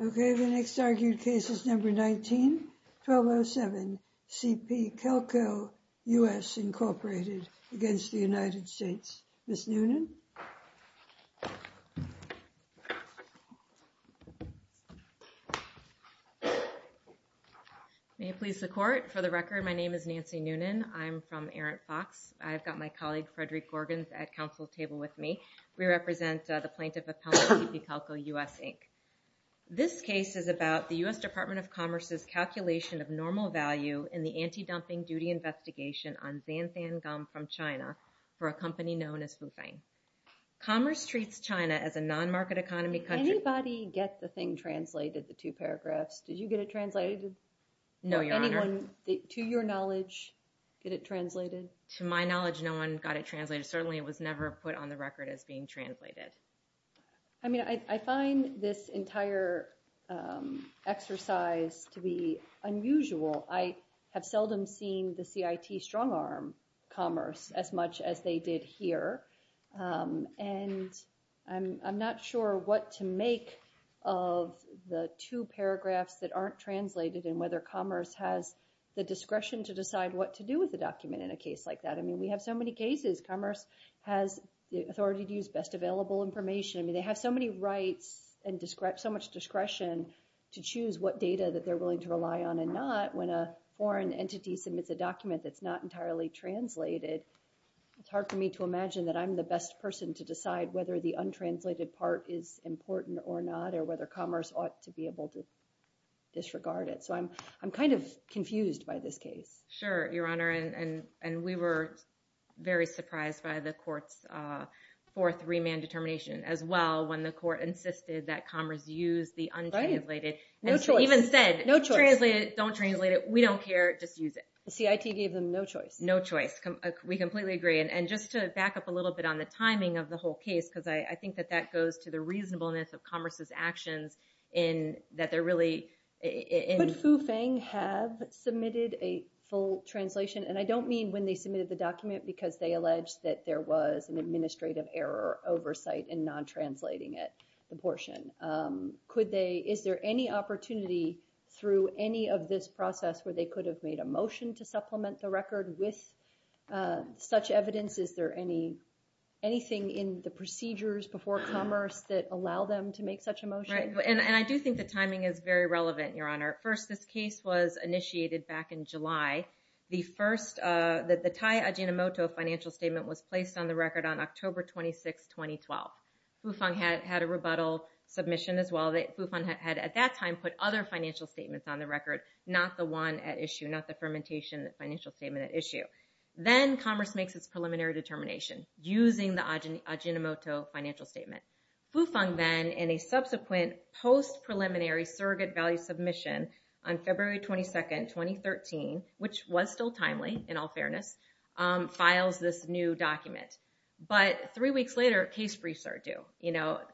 Okay, the next argued case is number 19, 1207, C.P. Calco, U.S., Incorporated, against the United States. Ms. Noonan? May it please the Court, for the record, my name is Nancy Noonan. I'm from ErrantFox. I've got my colleague, Frederick Gorgans, at counsel table with me. We represent the plaintiff appellant, C.P. Calco, U.S., Inc. This case is about the U.S. Department of Commerce's calculation of normal value in the anti-dumping duty investigation on xanthan gum from China for a company known as Fufeng. Commerce treats China as a non-market economy country. Anybody get the thing translated, the two paragraphs? Did you get it translated? No, Your Honor. Did anyone, to your knowledge, get it translated? To my knowledge, no one got it translated. Certainly, it was never put on the record as being translated. I mean, I find this entire exercise to be unusual. I have seldom seen the CIT strongarm, Commerce, as much as they did here, and I'm not sure what to make of the two paragraphs that aren't translated and whether Commerce has the discretion to decide what to do with the document in a case like that. I mean, we have so many cases. Commerce has the authority to use best available information. I mean, they have so many rights and so much discretion to choose what data that they're willing to rely on and not. When a foreign entity submits a document that's not entirely translated, it's hard for me to imagine that I'm the best person to decide whether the untranslated part is important or not or whether Commerce ought to be able to disregard it. So I'm kind of confused by this case. Sure, Your Honor, and we were very surprised by the court's fourth remand determination as well when the court insisted that Commerce use the untranslated. Right. No choice. No choice. Even said, translated, don't translate it. We don't care. Just use it. The CIT gave them no choice. No choice. We completely agree. And just to back up a little bit on the timing of the whole case, because I think that that goes to the reasonableness of Commerce's actions in that they're really in- But Fufeng have submitted a full translation, and I don't mean when they submitted the document because they alleged that there was an administrative error oversight in non-translating it, the portion. Is there any opportunity through any of this process where they could have made a motion to supplement the record with such evidence? Is there anything in the procedures before Commerce that allow them to make such a motion? Right. And I do think the timing is very relevant, Your Honor. First, this case was initiated back in July. The first, the Tai Ajinomoto financial statement was placed on the record on October 26, 2012. Fufeng had a rebuttal submission as well. Fufeng had at that time put other financial statements on the record, not the one at issue, not the fermentation financial statement at issue. Then Commerce makes its preliminary determination using the Ajinomoto financial statement. Fufeng then, in a subsequent post-preliminary surrogate value submission on February 22, 2013, which was still timely in all fairness, files this new document. But three weeks later, case briefs are due.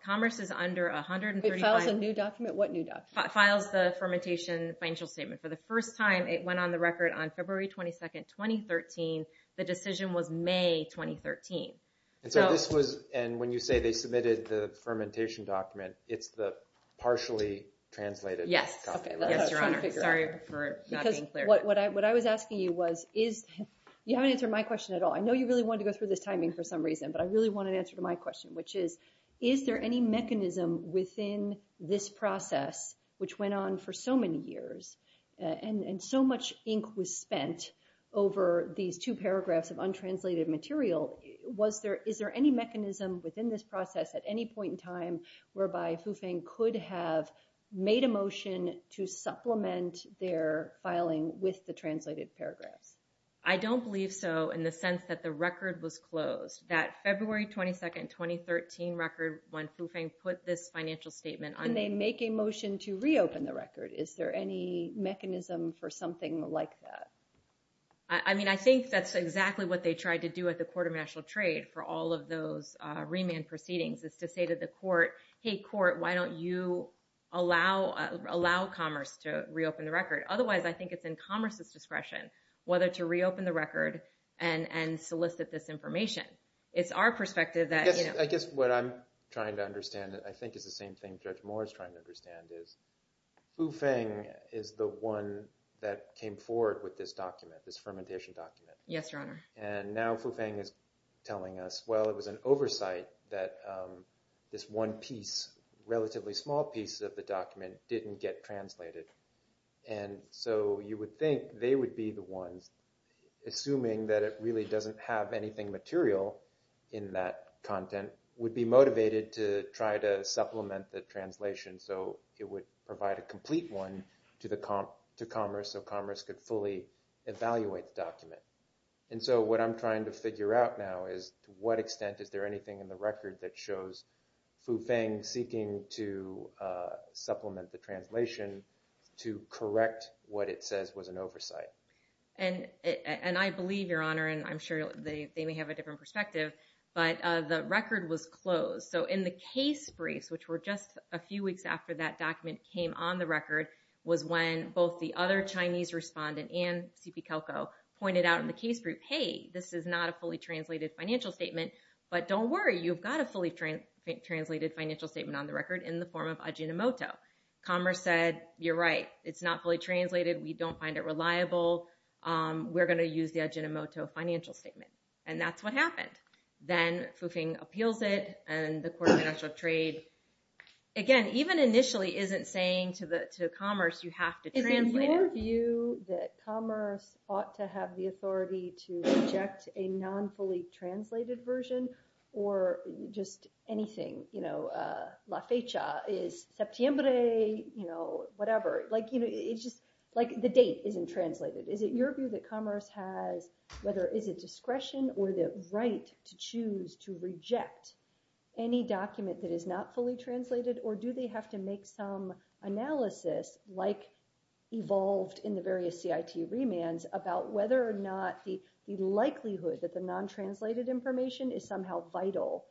Commerce is under 135... It files a new document? What new document? Files the fermentation financial statement. For the first time, it went on the record on February 22, 2013. The decision was May 2013. And when you say they submitted the fermentation document, it's the partially translated document? Yes. Yes, Your Honor. Sorry for not being clear. Because what I was asking you was, you haven't answered my question at all. I know you really wanted to go through this timing for some reason, but I really want an answer to my question, which is, is there any mechanism within this process, which went on for so many years, and so much ink was spent over these two paragraphs of untranslated material, is there any mechanism within this process at any point in time whereby Fufeng could have made a motion to supplement their filing with the translated paragraphs? I don't believe so, in the sense that the record was closed. That February 22, 2013 record, when Fufeng put this financial statement on... And they make a motion to reopen the record. Is there any mechanism for something like that? I mean, I think that's exactly what they tried to do at the Court of National Trade for all of those remand proceedings, is to say to the court, hey, court, why don't you allow commerce to reopen the record? Otherwise, I think it's in commerce's discretion whether to reopen the record and solicit this information. It's our perspective that... I guess what I'm trying to understand, I think it's the same thing Judge Moore is trying to understand, is Fufeng is the one that came forward with this document, this fermentation document. Yes, Your Honor. And now Fufeng is telling us, well, it was an oversight that this one piece, relatively small piece of the document, didn't get translated. And so you would think they would be the ones, assuming that it really doesn't have anything material in that content, would be motivated to try to supplement the translation. So it would provide a complete one to commerce, so commerce could fully evaluate the document. And so what I'm trying to figure out now is, to what extent is there anything in the record that shows Fufeng seeking to supplement the translation to correct what it says was an oversight? And I believe, Your Honor, and I'm sure they may have a different perspective, but the record was closed. So in the case briefs, which were just a few weeks after that document came on the record, was when both the other Chinese respondent and CP Calico pointed out in the case brief, hey, this is not a fully translated financial statement, but don't worry. You've got a fully translated financial statement on the record in the form of ajinomoto. Commerce said, you're right. It's not fully translated. We don't find it reliable. We're going to use the ajinomoto financial statement. And that's what happened. Then Fufeng appeals it, and the Court of Financial Trade, again, even initially, isn't saying to commerce, you have to translate it. Is it your view that commerce ought to have the authority to reject a non-fully translated version, or just anything, you know, la fecha is septiembre, you know, whatever? Like, you know, it's just like the date isn't translated. Is it your view that commerce has, whether it's a discretion or the right to choose to reject any document that is not fully translated, or do they have to make some analysis, like evolved in the various CIT remands, about whether or not the likelihood that the non-translated information is somehow vital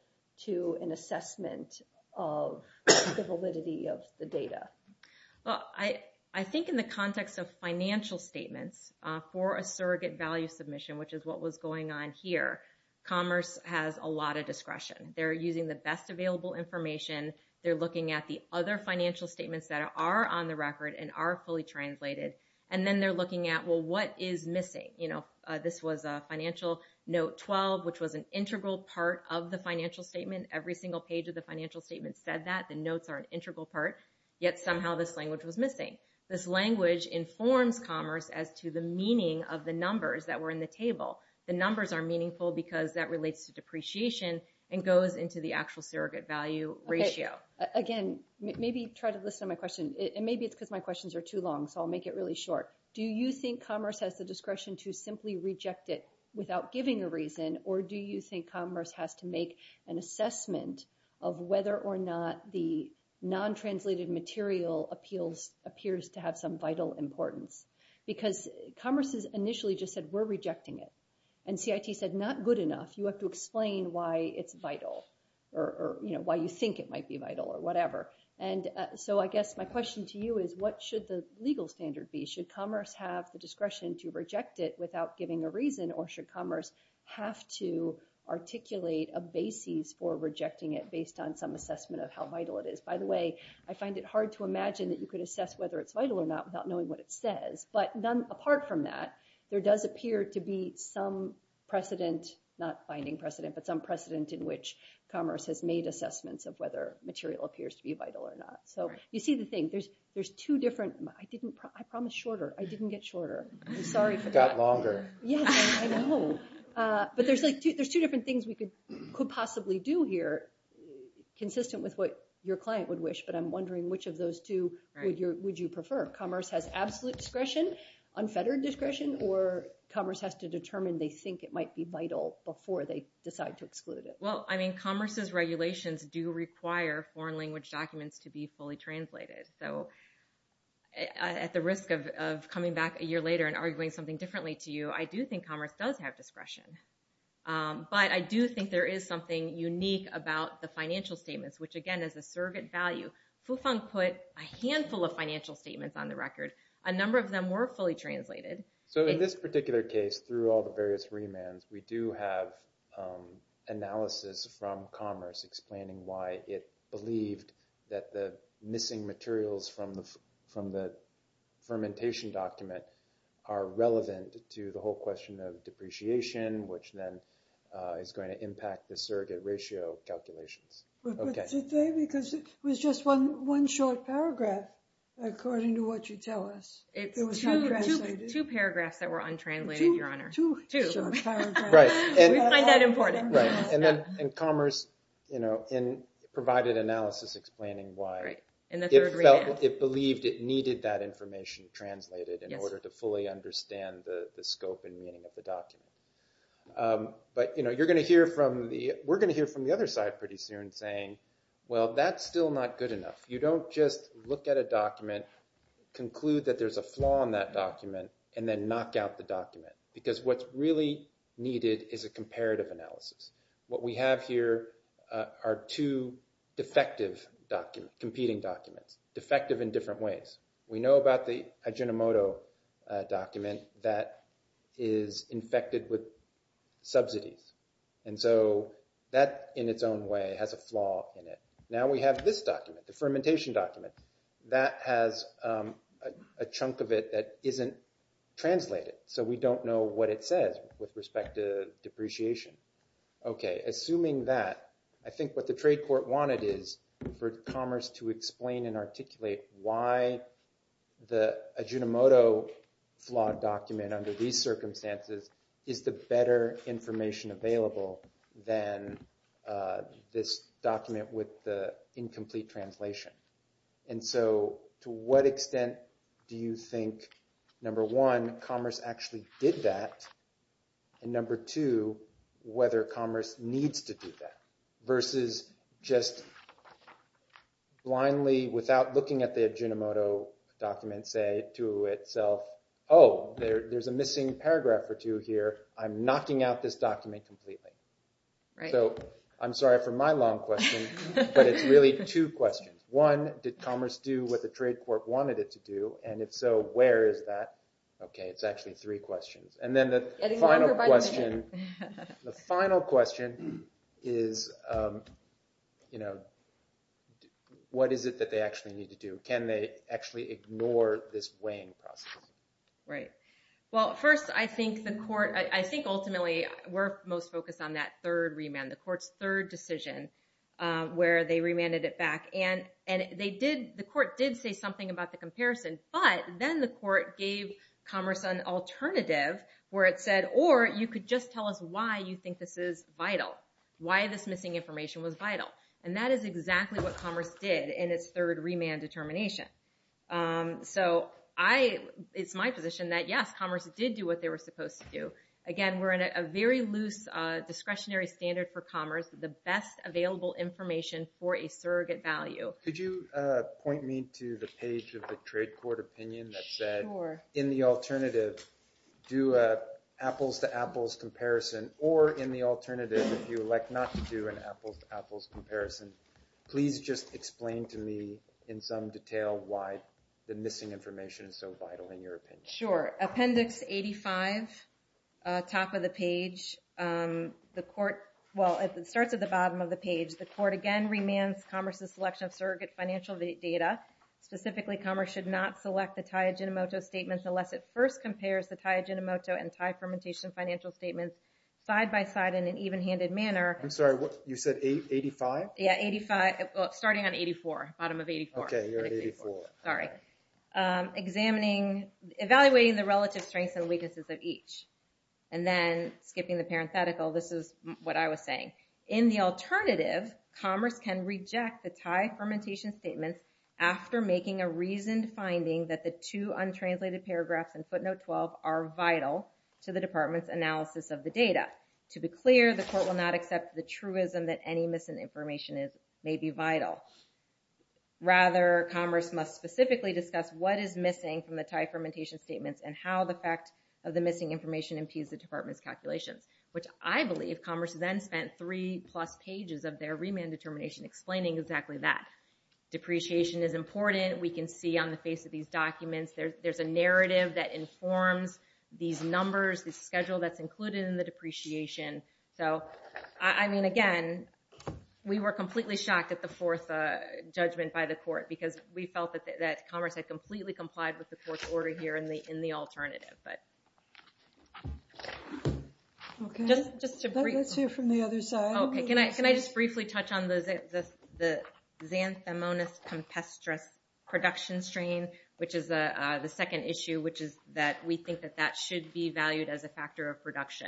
to an assessment of the validity of the data? Well, I think in the context of financial statements for a surrogate value submission, which is what was going on here, commerce has a lot of discretion. They're using the best available information. They're looking at the other financial statements that are on the record and are fully translated, and then they're looking at, well, what is missing? You know, this was a financial note 12, which was an integral part of the financial statement. Every single page of the financial statement said that. The notes are an integral part, yet somehow this language was missing. This language informs commerce as to the meaning of the numbers that were in the table. The numbers are meaningful because that relates to depreciation and goes into the actual surrogate value ratio. Again, maybe try to listen to my question, and maybe it's because my questions are too long, so I'll make it really short. Do you think commerce has the discretion to simply reject it without giving a reason, or do you think commerce has to make an assessment of whether or not the non-translated material appeals appears to have some vital importance? Because commerce has initially just said, we're rejecting it, and CIT said, not good enough. You have to explain why it's vital, or why you think it might be vital, or whatever. And so I guess my question to you is, what should the legal standard be? Should commerce have the discretion to reject it without giving a reason, or should commerce have to articulate a basis for rejecting it based on some assessment of how vital it is? By the way, I find it hard to imagine that you could assess whether it's vital or not without knowing what it says. But apart from that, there does appear to be some precedent, not binding precedent, but some precedent in which commerce has made assessments of whether material appears to be vital or not. So you see the thing. There's two different, I promised shorter. I didn't get shorter. I'm sorry for that. Got longer. Yes, I know. But there's two different things we could possibly do here, consistent with what your client would wish, but I'm wondering which of those two would you prefer? Commerce has absolute discretion, unfettered discretion, or commerce has to determine they think it might be vital before they decide to exclude it? Well, I mean, commerce's regulations do require foreign language documents to be fully translated. So at the risk of coming back a year later and arguing something differently to you, I do think commerce does have discretion. But I do think there is something unique about the financial statements, which, again, is a surrogate value. Fufeng put a handful of financial statements on the record. A number of them were fully translated. So in this particular case, through all the various remands, we do have analysis from commerce explaining why it believed that the missing materials from the fermentation document are relevant to the whole question of depreciation, which then is going to impact the surrogate ratio calculations. But today, because it was just one short paragraph, according to what you tell us. Two paragraphs that were untranslated, Your Honor. Two short paragraphs. Right. We find that important. Right. And commerce provided analysis explaining why it felt, it believed it needed that information translated in order to fully understand the scope and meaning of the document. But you're going to hear from the, we're going to hear from the other side pretty soon saying, well, that's still not good enough. You don't just look at a document, conclude that there's a flaw in that document, and then knock out the document. Because what's really needed is a comparative analysis. What we have here are two defective documents, competing documents. Defective in different ways. We know about the Ajinomoto document that is infected with subsidies. And so that, in its own way, has a flaw in it. Now we have this document, the fermentation document. That has a chunk of it that isn't translated. So we don't know what it says with respect to depreciation. OK. Assuming that, I think what the trade court wanted is for commerce to explain and articulate why the Ajinomoto flawed document under these circumstances is the better information available than this document with the incomplete translation. And so to what extent do you think, number one, commerce actually did that? And number two, whether commerce needs to do that? Versus just blindly without looking at the Ajinomoto document say to itself, oh, there's a missing paragraph or two here. I'm knocking out this document completely. So I'm sorry for my long question, but it's really two questions. One, did commerce do what the trade court wanted it to do? And if so, where is that? OK. It's actually three questions. And then the final question is, what is it that they actually need to do? Can they actually ignore this weighing process? Right. Well, first, I think ultimately, we're most focused on that third remand, the court's third decision where they remanded it back. And the court did say something about the comparison. But then the court gave commerce an alternative where it said, or you could just tell us why you think this is vital, why this missing information was vital. And that is exactly what commerce did in its third remand determination. So it's my position that, yes, commerce did do what they were supposed to do. Again, we're in a very loose discretionary standard for commerce, the best available information for a surrogate value. Could you point me to the page of the trade court opinion that said, in the alternative, do apples to apples comparison. Or in the alternative, if you elect not to do an apples to apples comparison, please just explain to me in some detail why the missing information is so vital in your opinion. Sure. Appendix 85, top of the page. The court, well, it starts at the bottom of the page. The court, again, remands commerce's selection of surrogate financial data. Specifically, commerce should not select the Taijinomoto statements unless it first compares the Taijinomoto and Tai fermentation financial statements side by side in an even-handed manner. I'm sorry. You said 85? Yeah, 85. Starting on 84, bottom of 84. Okay, you're at 84. Sorry. Examining, evaluating the relative strengths and weaknesses of each. And then, skipping the parenthetical, this is what I was saying. In the alternative, commerce can reject the Tai fermentation statements after making a reasoned finding that the two untranslated paragraphs in footnote 12 are vital to the department's analysis of the data. To be clear, the court will not accept the truism that any missing information may be vital. Rather, commerce must specifically discuss what is missing from the Tai fermentation statements and how the fact of the missing information impedes the department's calculations. Which I believe commerce then spent three plus pages of their remand determination explaining exactly that. Depreciation is important. We can see on the face of these documents, there's a narrative that informs these numbers, the schedule that's included in the depreciation. So, I mean, again, we were completely shocked at the fourth judgment by the court because we felt that commerce had completely complied with the court's order here in the alternative. Okay, let's hear from the other side. Okay, can I just briefly touch on the xanthomonas compestris production strain, which is the second issue, which is that we think that that should be valued as a factor of production.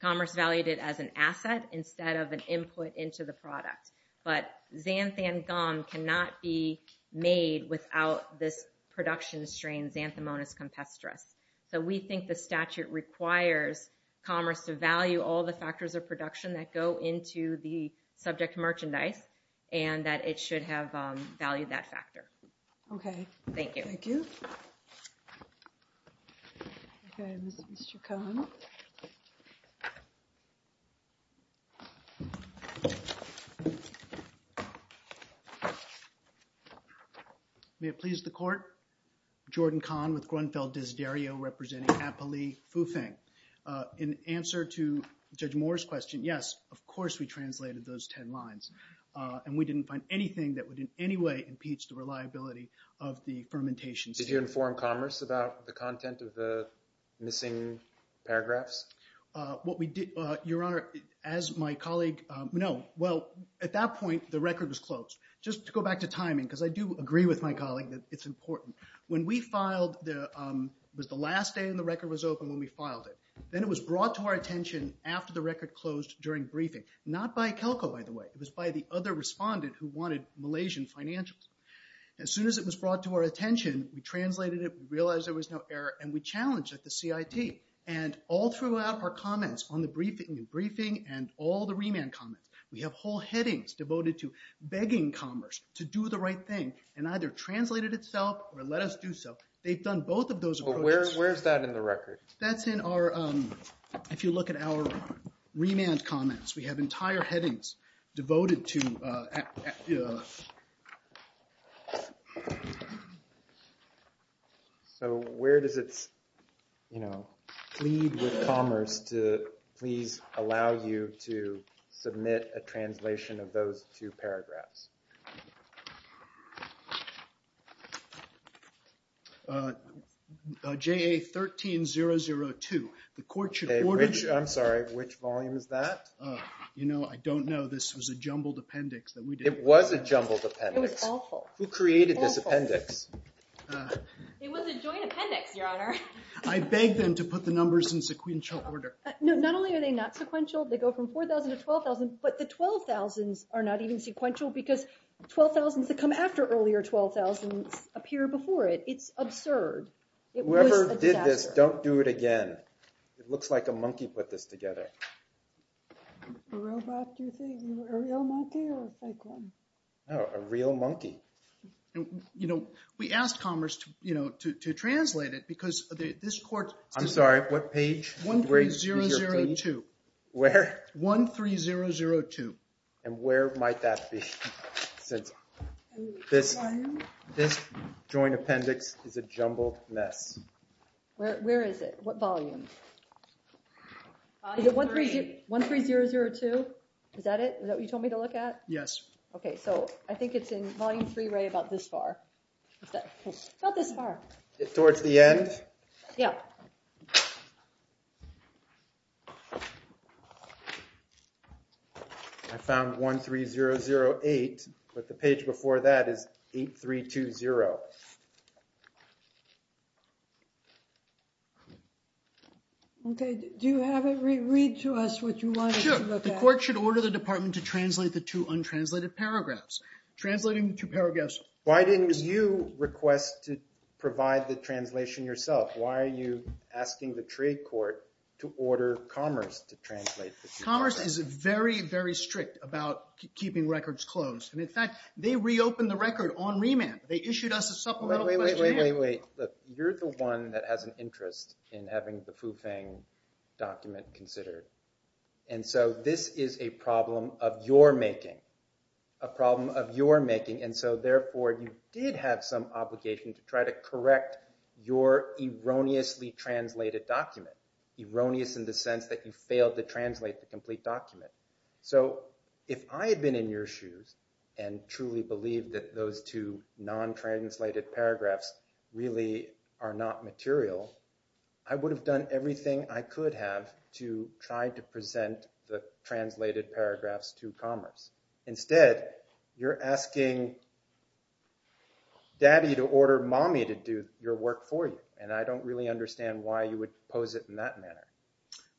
Commerce valued it as an asset instead of an input into the product. But xanthan gum cannot be made without this production strain, xanthomonas compestris. So we think the statute requires commerce to value all the factors of production that go into the subject merchandise Okay, thank you. Okay, Mr. Kahn. May it please the court, Jordan Kahn with Grunfeld Desiderio representing Apolli Fufeng. In answer to Judge Moore's question, yes, of course we translated those 10 lines. And we didn't find anything that would in any way impeach the reliability of the fermentation. Did you inform commerce about the content of the missing paragraphs? Your Honor, as my colleague, no. Well, at that point, the record was closed. Just to go back to timing, because I do agree with my colleague that it's important. When we filed, it was the last day and the record was open when we filed it. Then it was brought to our attention after the record closed during briefing. Not by Kelco, by the way. It was by the other respondent who wanted Malaysian financials. As soon as it was brought to our attention, we translated it, we realized there was no error, and we challenged at the CIT. And all throughout our comments on the briefing and all the remand comments, we have whole headings devoted to begging commerce to do the right thing and either translate it itself or let us do so. They've done both of those. But where's that in the record? That's in our, if you look at our remand comments, we have entire headings devoted to... So where does it plead with commerce to please allow you to submit a translation of those two paragraphs? JA-13-002, the court should order... I'm sorry, which volume is that? I don't know. This was a jumbled appendix that we did. It was a jumbled appendix. It was awful. Who created this appendix? It was a joint appendix, Your Honor. I beg them to put the numbers in sequential order. Not only are they not sequential, they go from 4,000 to 12,000, but the 12,000s are not even sequential because 12,000s that come after earlier 12,000s appear before it. It's absurd. Whoever did this, don't do it again. It looks like a monkey put this together. A robot, do you think? A real monkey or a fake one? No, a real monkey. We asked commerce to translate it because this court... I'm sorry, what page? 13-002. Where? 13-002. And where might that be? This joint appendix is a jumbled mess. Where is it? What volume? Volume 3. Is it 13-002? Is that it? Is that what you told me to look at? Yes. Okay, so I think it's in volume 3, right about this far. About this far. Towards the end? Yeah. I found 13-008, but the page before that is 8-320. Okay, do you have it? Read to us what you wanted to look at. Sure. The court should order the department to translate the two untranslated paragraphs. Translating the two paragraphs. Why didn't you request to provide the translation yourself? Why are you asking the trade court to order commerce to translate the two paragraphs? Commerce is very, very strict about keeping records closed. And in fact, they reopened the record on remand. They issued us a supplemental questionnaire. Wait, wait, wait, wait, wait. You're the one that has an interest in having the Fu Feng document considered. And so this is a problem of your making. A problem of your making. And so therefore, you did have some obligation to try to correct your erroneously translated document. Erroneous in the sense that you failed to translate the complete document. So if I had been in your shoes and truly believed that those two non-translated paragraphs really are not material, I would have done everything I could have to try to present the translated paragraphs to commerce. Instead, you're asking Daddy to order Mommy to do your work for you. And I don't really understand why you would pose it in that manner.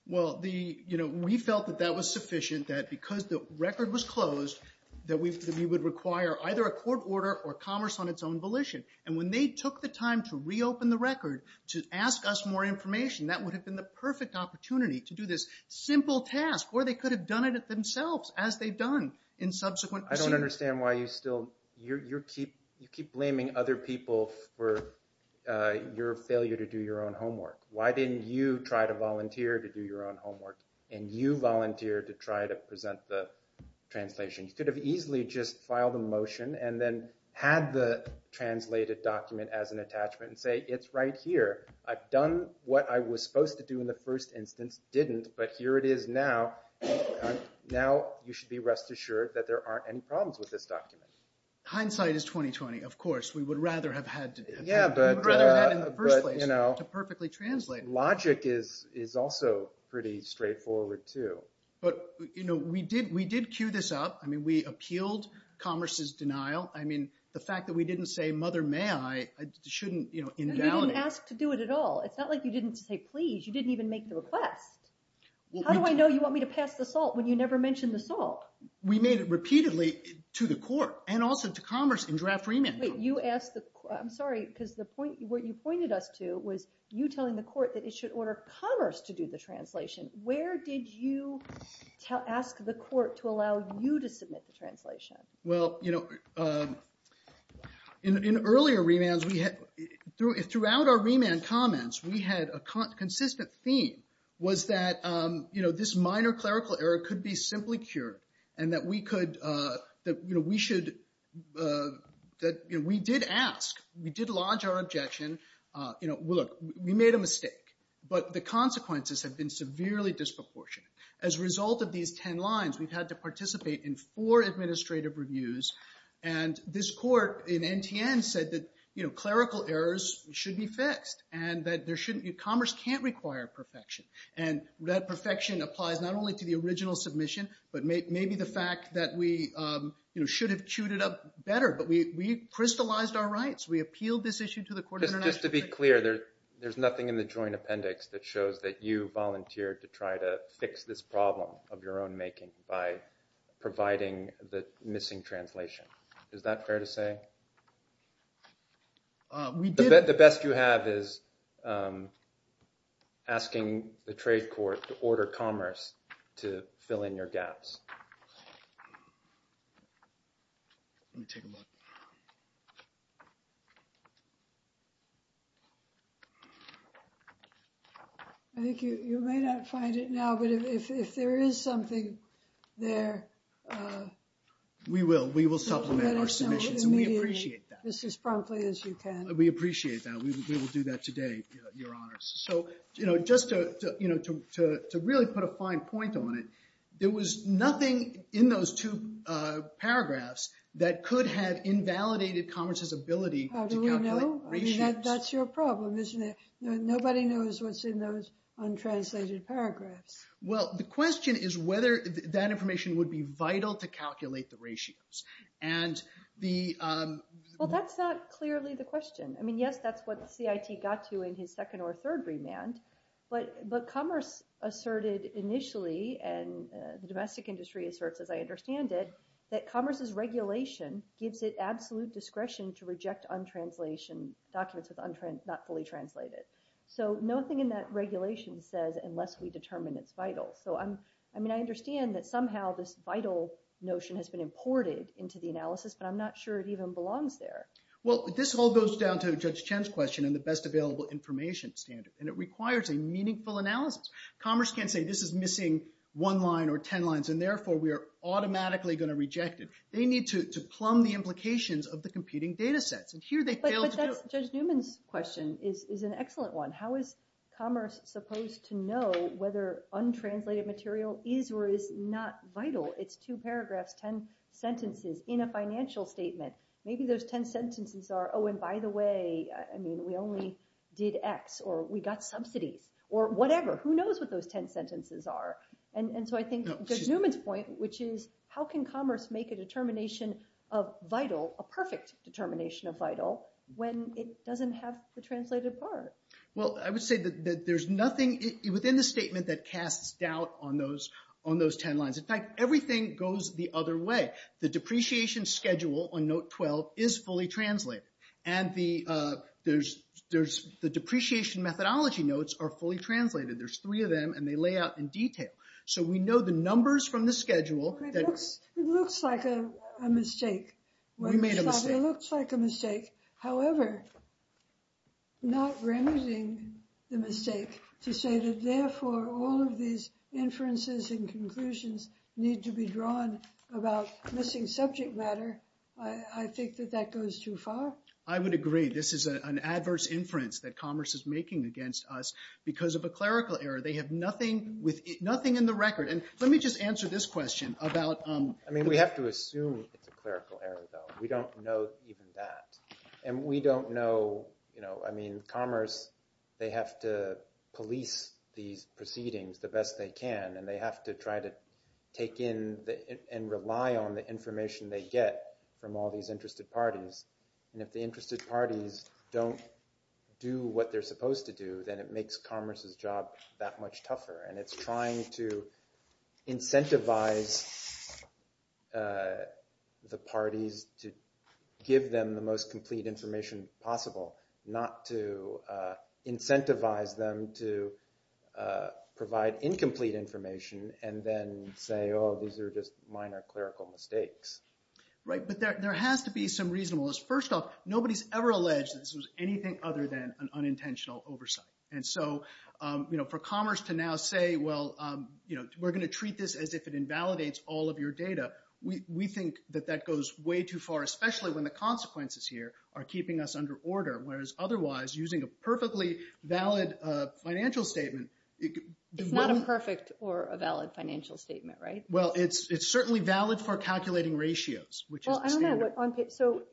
Well, we felt that that was sufficient. That because the record was closed, that we would require either a court order or commerce on its own volition. And when they took the time to reopen the record to ask us more information, that would have been the perfect opportunity to do this simple task. Or they could have done it themselves as they've done in subsequent proceedings. I don't understand why you still, you keep blaming other people for your failure to do your own homework. Why didn't you try to volunteer to do your own homework? And you volunteered to try to present the translation. You could have easily just filed a motion and then had the translated document as an attachment and say, it's right here. I've done what I was supposed to do in the first instance, didn't. But here it is now. Now you should be rest assured that there aren't any problems with this document. Hindsight is 20-20, of course. We would rather have had that in the first place to perfectly translate. Logic is also pretty straightforward too. But, you know, we did cue this up. I mean, we appealed Commerce's denial. I mean, the fact that we didn't say, mother, may I, shouldn't invalidate. You didn't ask to do it at all. It's not like you didn't say, please. You didn't even make the request. How do I know you want me to pass the salt when you never mentioned the salt? We made it repeatedly to the court and also to Commerce in draft remand. You asked the, I'm sorry, because the point, what you pointed us to was you telling the court that it should order Commerce to do the translation. Where did you ask the court to allow you to submit the translation? Well, you know, in earlier remands, throughout our remand comments, we had a consistent theme was that, you know, this minor clerical error could be simply cured and that we could, that, you know, we should, that, you know, we did ask. We did lodge our objection. You know, look, we made a mistake, but the consequences have been severely disproportionate. As a result of these 10 lines, we've had to participate in four administrative reviews. And this court in NTN said that, you know, clerical errors should be fixed and that there shouldn't be, Commerce can't require perfection. And that perfection applies not only to the original submission, but maybe the fact that we, you know, should have queued it up better, but we crystallized our rights. We appealed this issue to the court in NTN. Just to be clear, there's nothing in the joint appendix that shows that you volunteered to try to fix this problem of your own making by providing the missing translation. Is that fair to say? The best you have is asking the trade court to order Commerce to fill in your gaps. Let me take a look. I think you may not find it now, but if there is something there. We will. We will supplement our submissions. And we appreciate that. Just as promptly as you can. We appreciate that. We will do that today, Your Honors. So, you know, just to, you know, to really put a fine point on it, there was nothing in those two paragraphs that could have invalidated Commerce's ability to calculate ratios. That's your problem, isn't it? Nobody knows what's in those untranslated paragraphs. Well, the question is whether that information would be vital to calculate the ratios. And the... Well, that's not clearly the question. I mean, yes, that's what CIT got to in his second or third remand, but Commerce asserted initially, and the domestic industry asserts, as I understand it, that Commerce's regulation gives it absolute discretion to reject untranslation documents with not fully translated. So nothing in that regulation says unless we determine it's vital. So, I mean, I understand that somehow this vital notion has been imported into the analysis, but I'm not sure it even belongs there. Well, this all goes down to Judge Chen's question on the best available information standard, and it requires a meaningful analysis. Commerce can't say this is missing one line or 10 lines, and therefore we are automatically going to reject it. They need to plumb the implications of the competing data sets, and here they failed to do it. But Judge Newman's question is an excellent one. How is Commerce supposed to know whether untranslated material is or is not vital? It's two paragraphs, 10 sentences in a financial statement. Maybe those 10 sentences are, oh, and by the way, I mean, we only did X, or we got subsidies, or whatever. Who knows what those 10 sentences are? And so I think Judge Newman's point, which is how can Commerce make a determination of vital, a perfect determination of vital, when it doesn't have the translated part? Well, I would say that there's nothing within the statement that casts doubt on those 10 lines. In fact, everything goes the other way. The depreciation schedule on note 12 is fully translated, and the depreciation methodology notes are fully translated. There's three of them, and they lay out in detail. So we know the numbers from the schedule. It looks like a mistake. We made a mistake. It looks like a mistake. However, not remedying the mistake to say that therefore all of these inferences and missing subject matter, I think that that goes too far. I would agree. This is an adverse inference that Commerce is making against us because of a clerical error. They have nothing in the record. And let me just answer this question about- I mean, we have to assume it's a clerical error, though. We don't know even that. And we don't know, I mean, Commerce, they have to police these proceedings the best they can, and they have to try to take in and rely on the information they get from all these interested parties. And if the interested parties don't do what they're supposed to do, then it makes Commerce's job that much tougher. And it's trying to incentivize the parties to give them the most complete information possible, not to incentivize them to provide incomplete information and then say, oh, these are just minor clerical mistakes. Right. But there has to be some reasonableness. First off, nobody's ever alleged that this was anything other than an unintentional oversight. And so for Commerce to now say, well, we're going to treat this as if it invalidates all of your data, we think that that goes way too far, especially when the consequences here are keeping us under order, whereas otherwise, using a perfectly valid financial statement, it could— It's not a perfect or a valid financial statement, right? Well, it's certainly valid for calculating ratios, which is— Well, I don't know what—so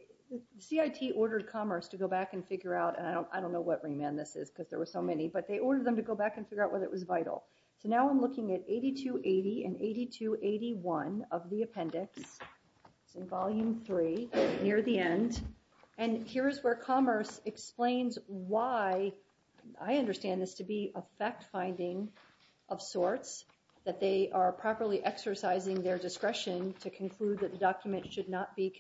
CIT ordered Commerce to go back and figure out, and I don't know what remand this is because there were so many, but they ordered them to go back and figure out whether it was vital. So now I'm looking at 8280 and 8281 of the appendix. It's in volume three, near the end. And here is where Commerce explains why—I understand this to be a fact-finding of sorts, that they are properly exercising their discretion to conclude that the document should not be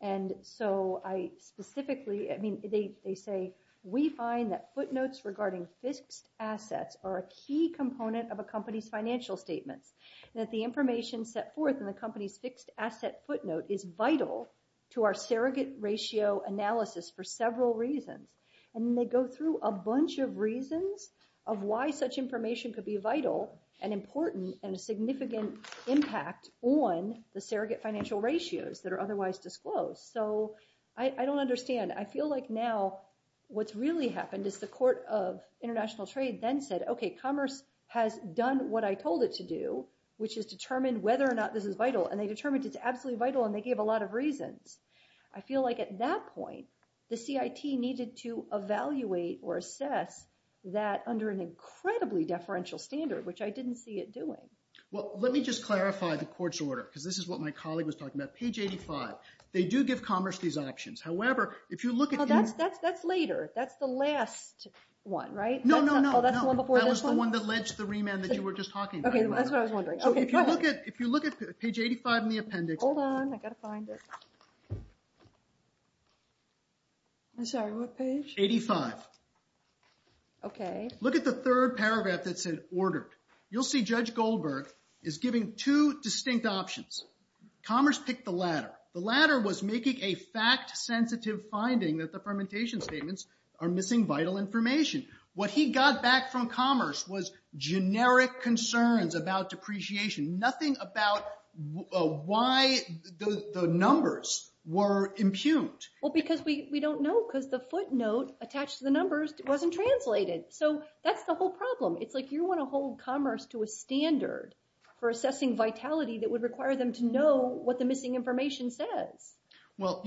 And so I specifically—I mean, they say, we find that footnotes regarding fixed assets are a key component of a company's financial statements, that the information set forth in the company's fixed asset footnote is vital to our surrogate ratio analysis for several reasons. And then they go through a bunch of reasons of why such information could be vital and important and a significant impact on the surrogate financial ratios that are otherwise disclosed. So I don't understand. I feel like now what's really happened is the Court of International Trade then said, OK, Commerce has done what I told it to do, which is determine whether or not this is vital. And they determined it's absolutely vital, and they gave a lot of reasons. I feel like at that point, the CIT needed to evaluate or assess that under an incredibly deferential standard, which I didn't see it doing. Well, let me just clarify the Court's order, because this is what my colleague was talking about. Page 85. They do give Commerce these options. However, if you look at— Oh, that's later. That's the last one, right? No, no, no. That was the one that ledged the remand that you were just talking about. OK, that's what I was wondering. So if you look at page 85 in the appendix— Hold on. I've got to find it. I'm sorry, what page? 85. OK. Look at the third paragraph that said, ordered. You'll see Judge Goldberg is giving two distinct options. Commerce picked the latter. The latter was making a fact-sensitive finding that the fermentation statements are missing vital information. What he got back from Commerce was generic concerns about depreciation. Nothing about why the numbers were impugned. Well, because we don't know, because the footnote attached to the numbers wasn't translated. So that's the whole problem. It's like you want to hold Commerce to a standard for assessing vitality that would require them to know what the missing information says. Well,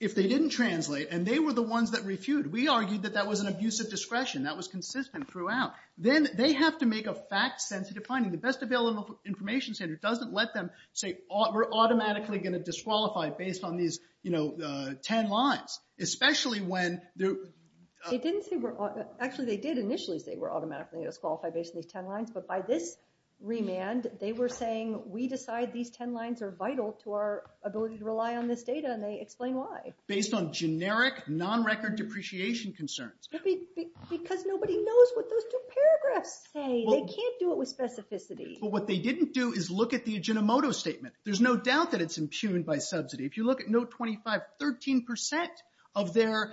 if they didn't translate, and they were the ones that refuted— we argued that that was an abuse of discretion. That was consistent throughout. Then they have to make a fact-sensitive finding. The Best Available Information Standard doesn't let them say, we're automatically going to disqualify based on these 10 lines, especially when— Actually, they did initially say, we're automatically going to disqualify based on these 10 lines. But by this remand, they were saying, we decide these 10 lines are vital to our ability to rely on this data. And they explain why. Based on generic, non-record depreciation concerns. Because nobody knows what those two paragraphs say. They can't do it with specificity. But what they didn't do is look at the Aginomoto statement. There's no doubt that it's impugned by subsidy. If you look at Note 25, 13% of their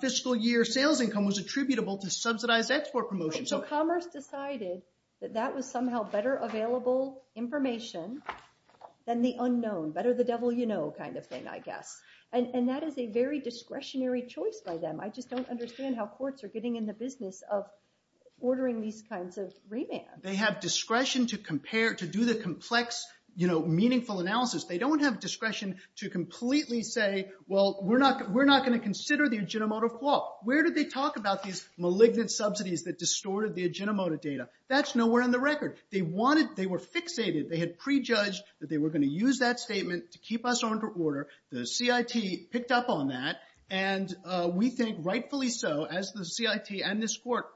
fiscal year sales income was attributable to subsidized export promotion. So Commerce decided that that was somehow better available information than the unknown, better the devil you know kind of thing, I guess. And that is a very discretionary choice by them. I just don't understand how courts are getting in the business of ordering these kinds of remands. They have discretion to compare, to do the complex, you know, meaningful analysis. They don't have discretion to completely say, well, we're not going to consider the Aginomoto flaw. Where did they talk about these malignant subsidies that distorted the Aginomoto data? That's nowhere on the record. They wanted— they were fixated. They had prejudged that they were going to use that statement to keep us on order. The CIT picked up on that. And we think, rightfully so, as the CIT and this court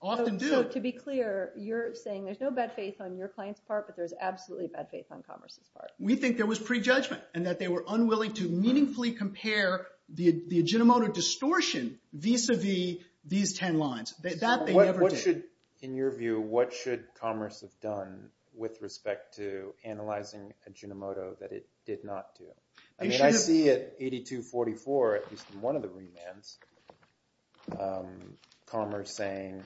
often do— So to be clear, you're saying there's no bad faith on your client's part, but there's absolutely bad faith on Commerce's part. We think there was prejudgment and that they were unwilling to meaningfully compare the Aginomoto distortion vis-a-vis these 10 lines. That they never did. In your view, what should Commerce have done with respect to analyzing Aginomoto that it did not do? I mean, I see at 8244, at least in one of the remands, Commerce saying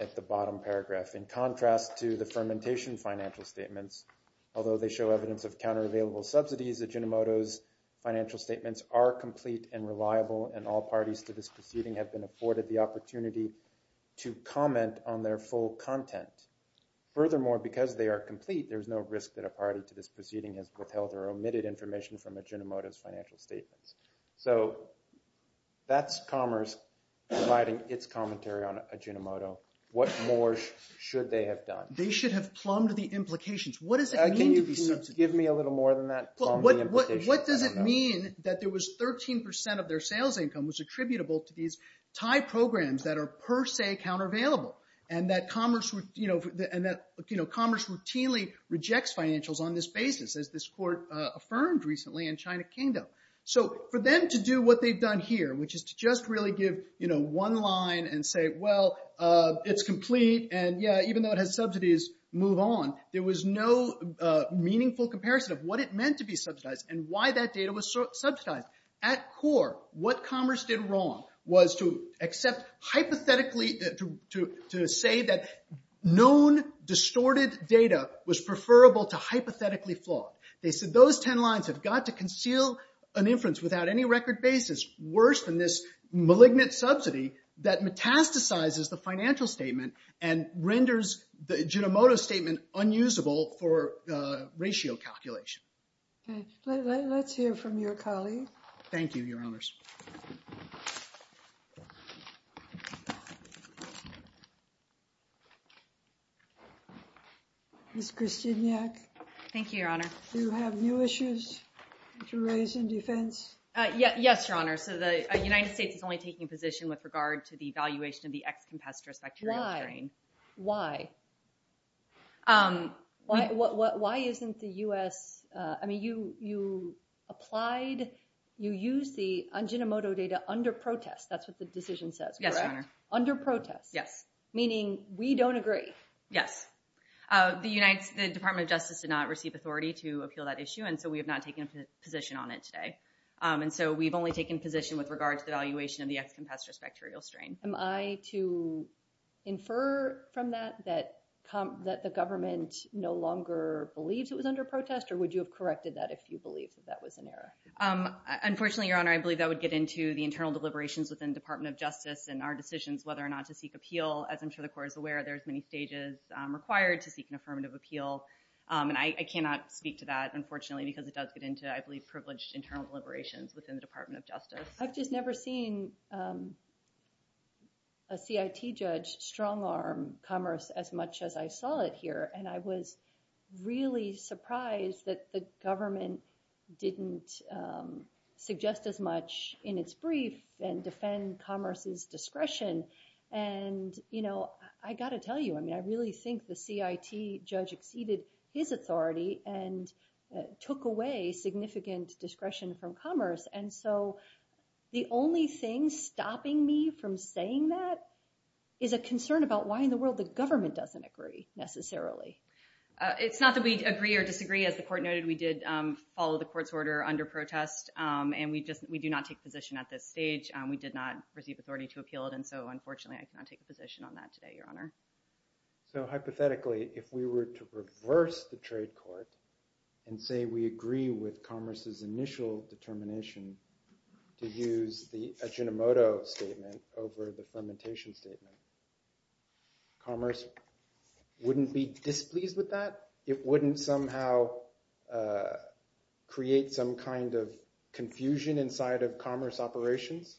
at the bottom paragraph, in contrast to the fermentation financial statements, although they show evidence of counteravailable subsidies, Aginomoto's financial statements are complete and reliable and all parties to this proceeding have been afforded the opportunity to comment on their full content. Furthermore, because they are complete, there's no risk that a party to this proceeding has withheld or omitted information from Aginomoto's financial statements. So that's Commerce providing its commentary on Aginomoto. What more should they have done? They should have plumbed the implications. What does it mean to be— Can you give me a little more than that? What does it mean that there was 13 percent of their sales income was attributable to these Thai programs that are per se counteravailable and that Commerce routinely rejects financials on this basis, as this court affirmed recently in China Kingdom? So for them to do what they've done here, which is to just really give one line and say, well, it's complete and yeah, even though it has subsidies, move on, there was no meaningful comparison of what it meant to be subsidized and why that data was subsidized. At core, what Commerce did wrong was to accept hypothetically—to say that known distorted data was preferable to hypothetically flawed. They said those 10 lines have got to conceal an inference without any record basis worse than this malignant subsidy that metastasizes the financial statement and renders the Aginomoto statement unusable for ratio calculation. Okay, let's hear from your colleague. Thank you, Your Honors. Ms. Krasiniak? Thank you, Your Honor. Do you have new issues to raise in defense? Yes, Your Honor. So the United States is only taking a position with regard to the evaluation of the X-compestorous bacterial strain. Why? Why isn't the U.S.—I mean, you applied—you used the Aginomoto data under protest, that's what the decision says, correct? Yes, Your Honor. Under protest? Yes. Meaning, we don't agree? Yes. The Department of Justice did not receive authority to appeal that issue, and so we have not taken a position on it today. And so we've only taken a position with regard to the evaluation of the X-compestorous bacterial strain. Am I to infer from that that the government no longer believes it was under protest, or would you have corrected that if you believed that that was an error? Unfortunately, Your Honor, I believe that would get into the internal deliberations within the Department of Justice and our decisions whether or not to seek appeal. As I'm sure the Court is aware, there's many stages required to seek an affirmative appeal, and I cannot speak to that, unfortunately, because it does get into, I believe, privileged internal deliberations within the Department of Justice. I've just never seen a CIT judge strong-arm commerce as much as I saw it here, and I was really surprised that the government didn't suggest as much in its brief and defend commerce's discretion. And, you know, I got to tell you, I mean, I really think the CIT judge exceeded his The only thing stopping me from saying that is a concern about why in the world the government doesn't agree, necessarily. It's not that we agree or disagree. As the Court noted, we did follow the Court's order under protest, and we do not take position at this stage. We did not receive authority to appeal it, and so, unfortunately, I cannot take a position on that today, Your Honor. So, hypothetically, if we were to reverse the trade court and say we agree with commerce's initial determination to use the Ajinomoto statement over the Flementation statement, commerce wouldn't be displeased with that? It wouldn't somehow create some kind of confusion inside of commerce operations?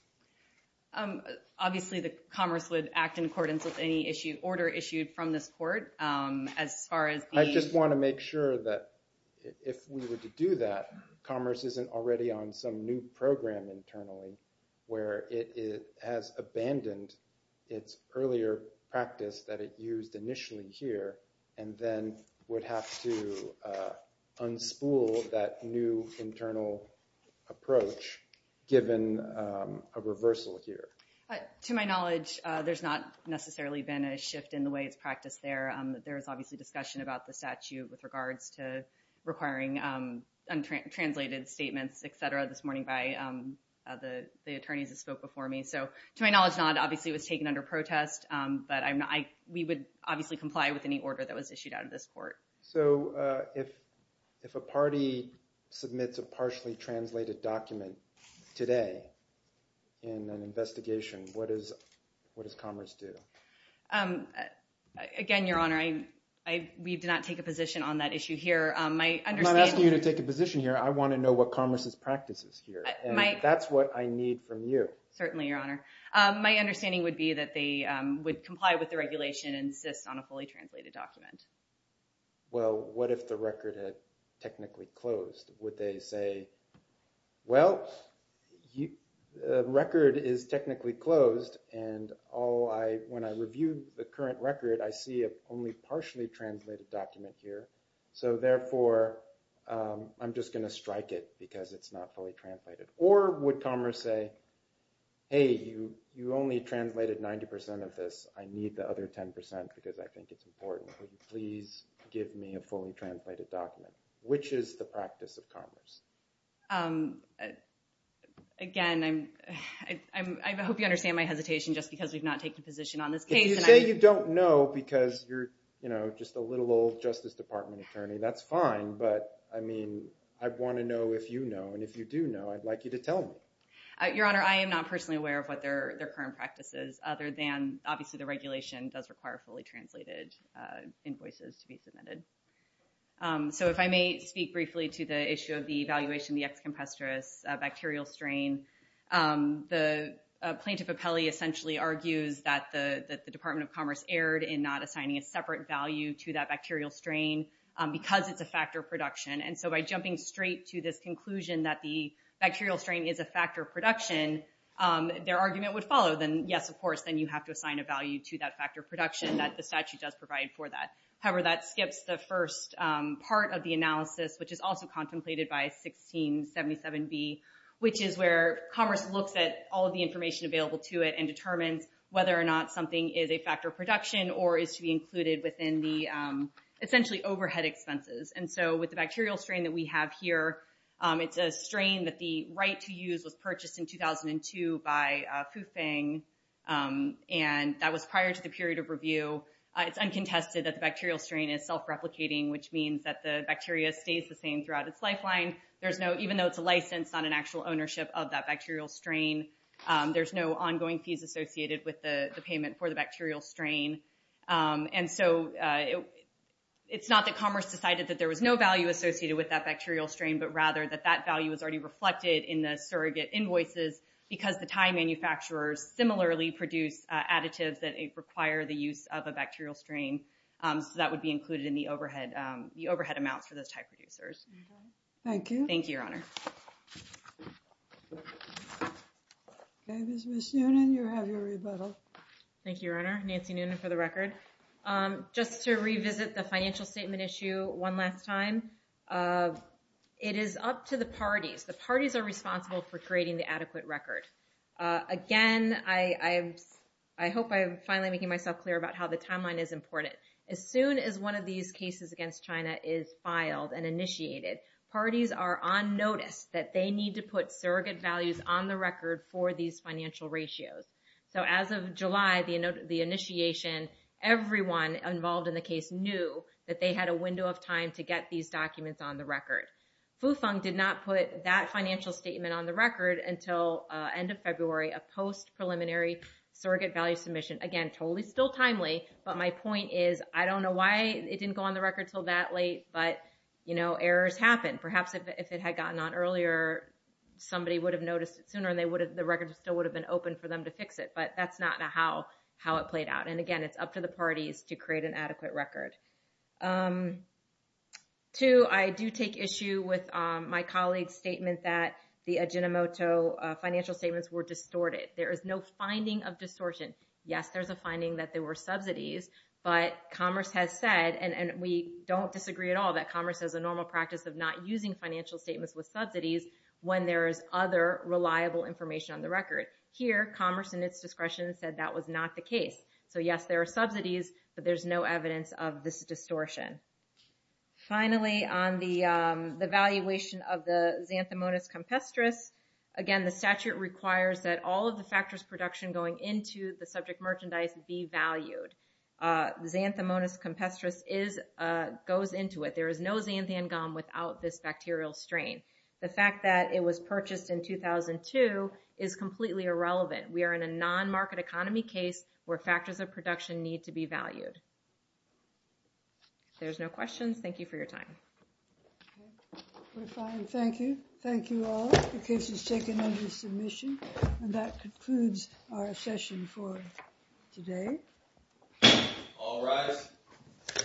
Obviously, the commerce would act in accordance with any order issued from this Court, as far as the— I just want to make sure that if we were to do that, commerce isn't already on some new program internally, where it has abandoned its earlier practice that it used initially here, and then would have to unspool that new internal approach, given a reversal here. To my knowledge, there's not necessarily been a shift in the way it's practiced there. There's obviously discussion about the statute with regards to requiring untranslated statements, et cetera, this morning by the attorneys that spoke before me. So, to my knowledge, not. Obviously, it was taken under protest, but we would obviously comply with any order that was issued out of this Court. So, if a party submits a partially translated document today in an investigation, what does commerce do? Again, Your Honor, we do not take a position on that issue here. I'm not asking you to take a position here. I want to know what commerce's practice is here, and that's what I need from you. Certainly, Your Honor. My understanding would be that they would comply with the regulation and insist on a fully translated document. Well, what if the record had technically closed? Would they say, well, the record is technically closed, and when I reviewed the current record, I see a only partially translated document here. So, therefore, I'm just going to strike it because it's not fully translated. Or would commerce say, hey, you only translated 90% of this. I need the other 10% because I think it's important. Please give me a fully translated document. Which is the practice of commerce? Again, I hope you understand my hesitation just because we've not taken a position on this case. If you say you don't know because you're just a little old Justice Department attorney, that's fine. But, I mean, I'd want to know if you know. And if you do know, I'd like you to tell me. Your Honor, I am not personally aware of what their current practice is other than, obviously, the regulation does require fully translated invoices to be submitted. So, if I may speak briefly to the issue of the evaluation of the ex-compestuous bacterial strain. The plaintiff appellee essentially argues that the Department of Commerce erred in not assigning a separate value to that bacterial strain because it's a factor of production. And so, by jumping straight to this conclusion that the bacterial strain is a factor of production, their argument would follow. Yes, of course, then you have to assign a value to that factor of production that the statute does provide for that. However, that skips the first part of the analysis, which is also contemplated by 1677B, which is where Commerce looks at all of the information available to it and determines whether or not something is a factor of production or is to be included within the, essentially, overhead expenses. And so, with the bacterial strain that we have here, it's a strain that the right to And that was prior to the period of review. It's uncontested that the bacterial strain is self-replicating, which means that the bacteria stays the same throughout its lifeline. There's no, even though it's a license, not an actual ownership of that bacterial strain, there's no ongoing fees associated with the payment for the bacterial strain. And so, it's not that Commerce decided that there was no value associated with that bacterial strain, but rather that that value is already reflected in the surrogate invoices because the tie manufacturers similarly produce additives that require the use of a bacterial strain. So, that would be included in the overhead amounts for those tie producers. Thank you, Your Honor. Okay, Ms. Noonan, you have your rebuttal. Thank you, Your Honor. Nancy Noonan for the record. Just to revisit the financial statement issue one last time. It is up to the parties. The parties are responsible for creating the adequate record. Again, I hope I'm finally making myself clear about how the timeline is important. As soon as one of these cases against China is filed and initiated, parties are on notice that they need to put surrogate values on the record for these financial ratios. So, as of July, the initiation, everyone involved in the case knew that they had a window of time to get these documents on the record. Fufeng did not put that financial statement on the record until end of February, a post-preliminary surrogate value submission. Again, totally still timely, but my point is, I don't know why it didn't go on the record until that late, but errors happen. Perhaps if it had gotten on earlier, somebody would have noticed it sooner and the record still would have been open for them to fix it. But that's not how it played out. And again, it's up to the parties to create an adequate record. Two, I do take issue with my colleague's statement that the Ajinomoto financial statements were distorted. There is no finding of distortion. Yes, there's a finding that there were subsidies, but Commerce has said, and we don't disagree at all that Commerce has a normal practice of not using financial statements with subsidies when there is other reliable information on the record. Here, Commerce, in its discretion, said that was not the case. So yes, there are subsidies, but there's no evidence of this distortion. Finally, on the valuation of the xanthomonas compestris, again, the statute requires that all of the factors production going into the subject merchandise be valued. Xanthomonas compestris goes into it. There is no xanthan gum without this bacterial strain. The fact that it was purchased in 2002 is completely irrelevant. We are in a non-market economy case where factors of production need to be valued. There's no questions. Thank you for your time. We're fine. Thank you. Thank you all. The case is taken under submission. And that concludes our session for today. All rise.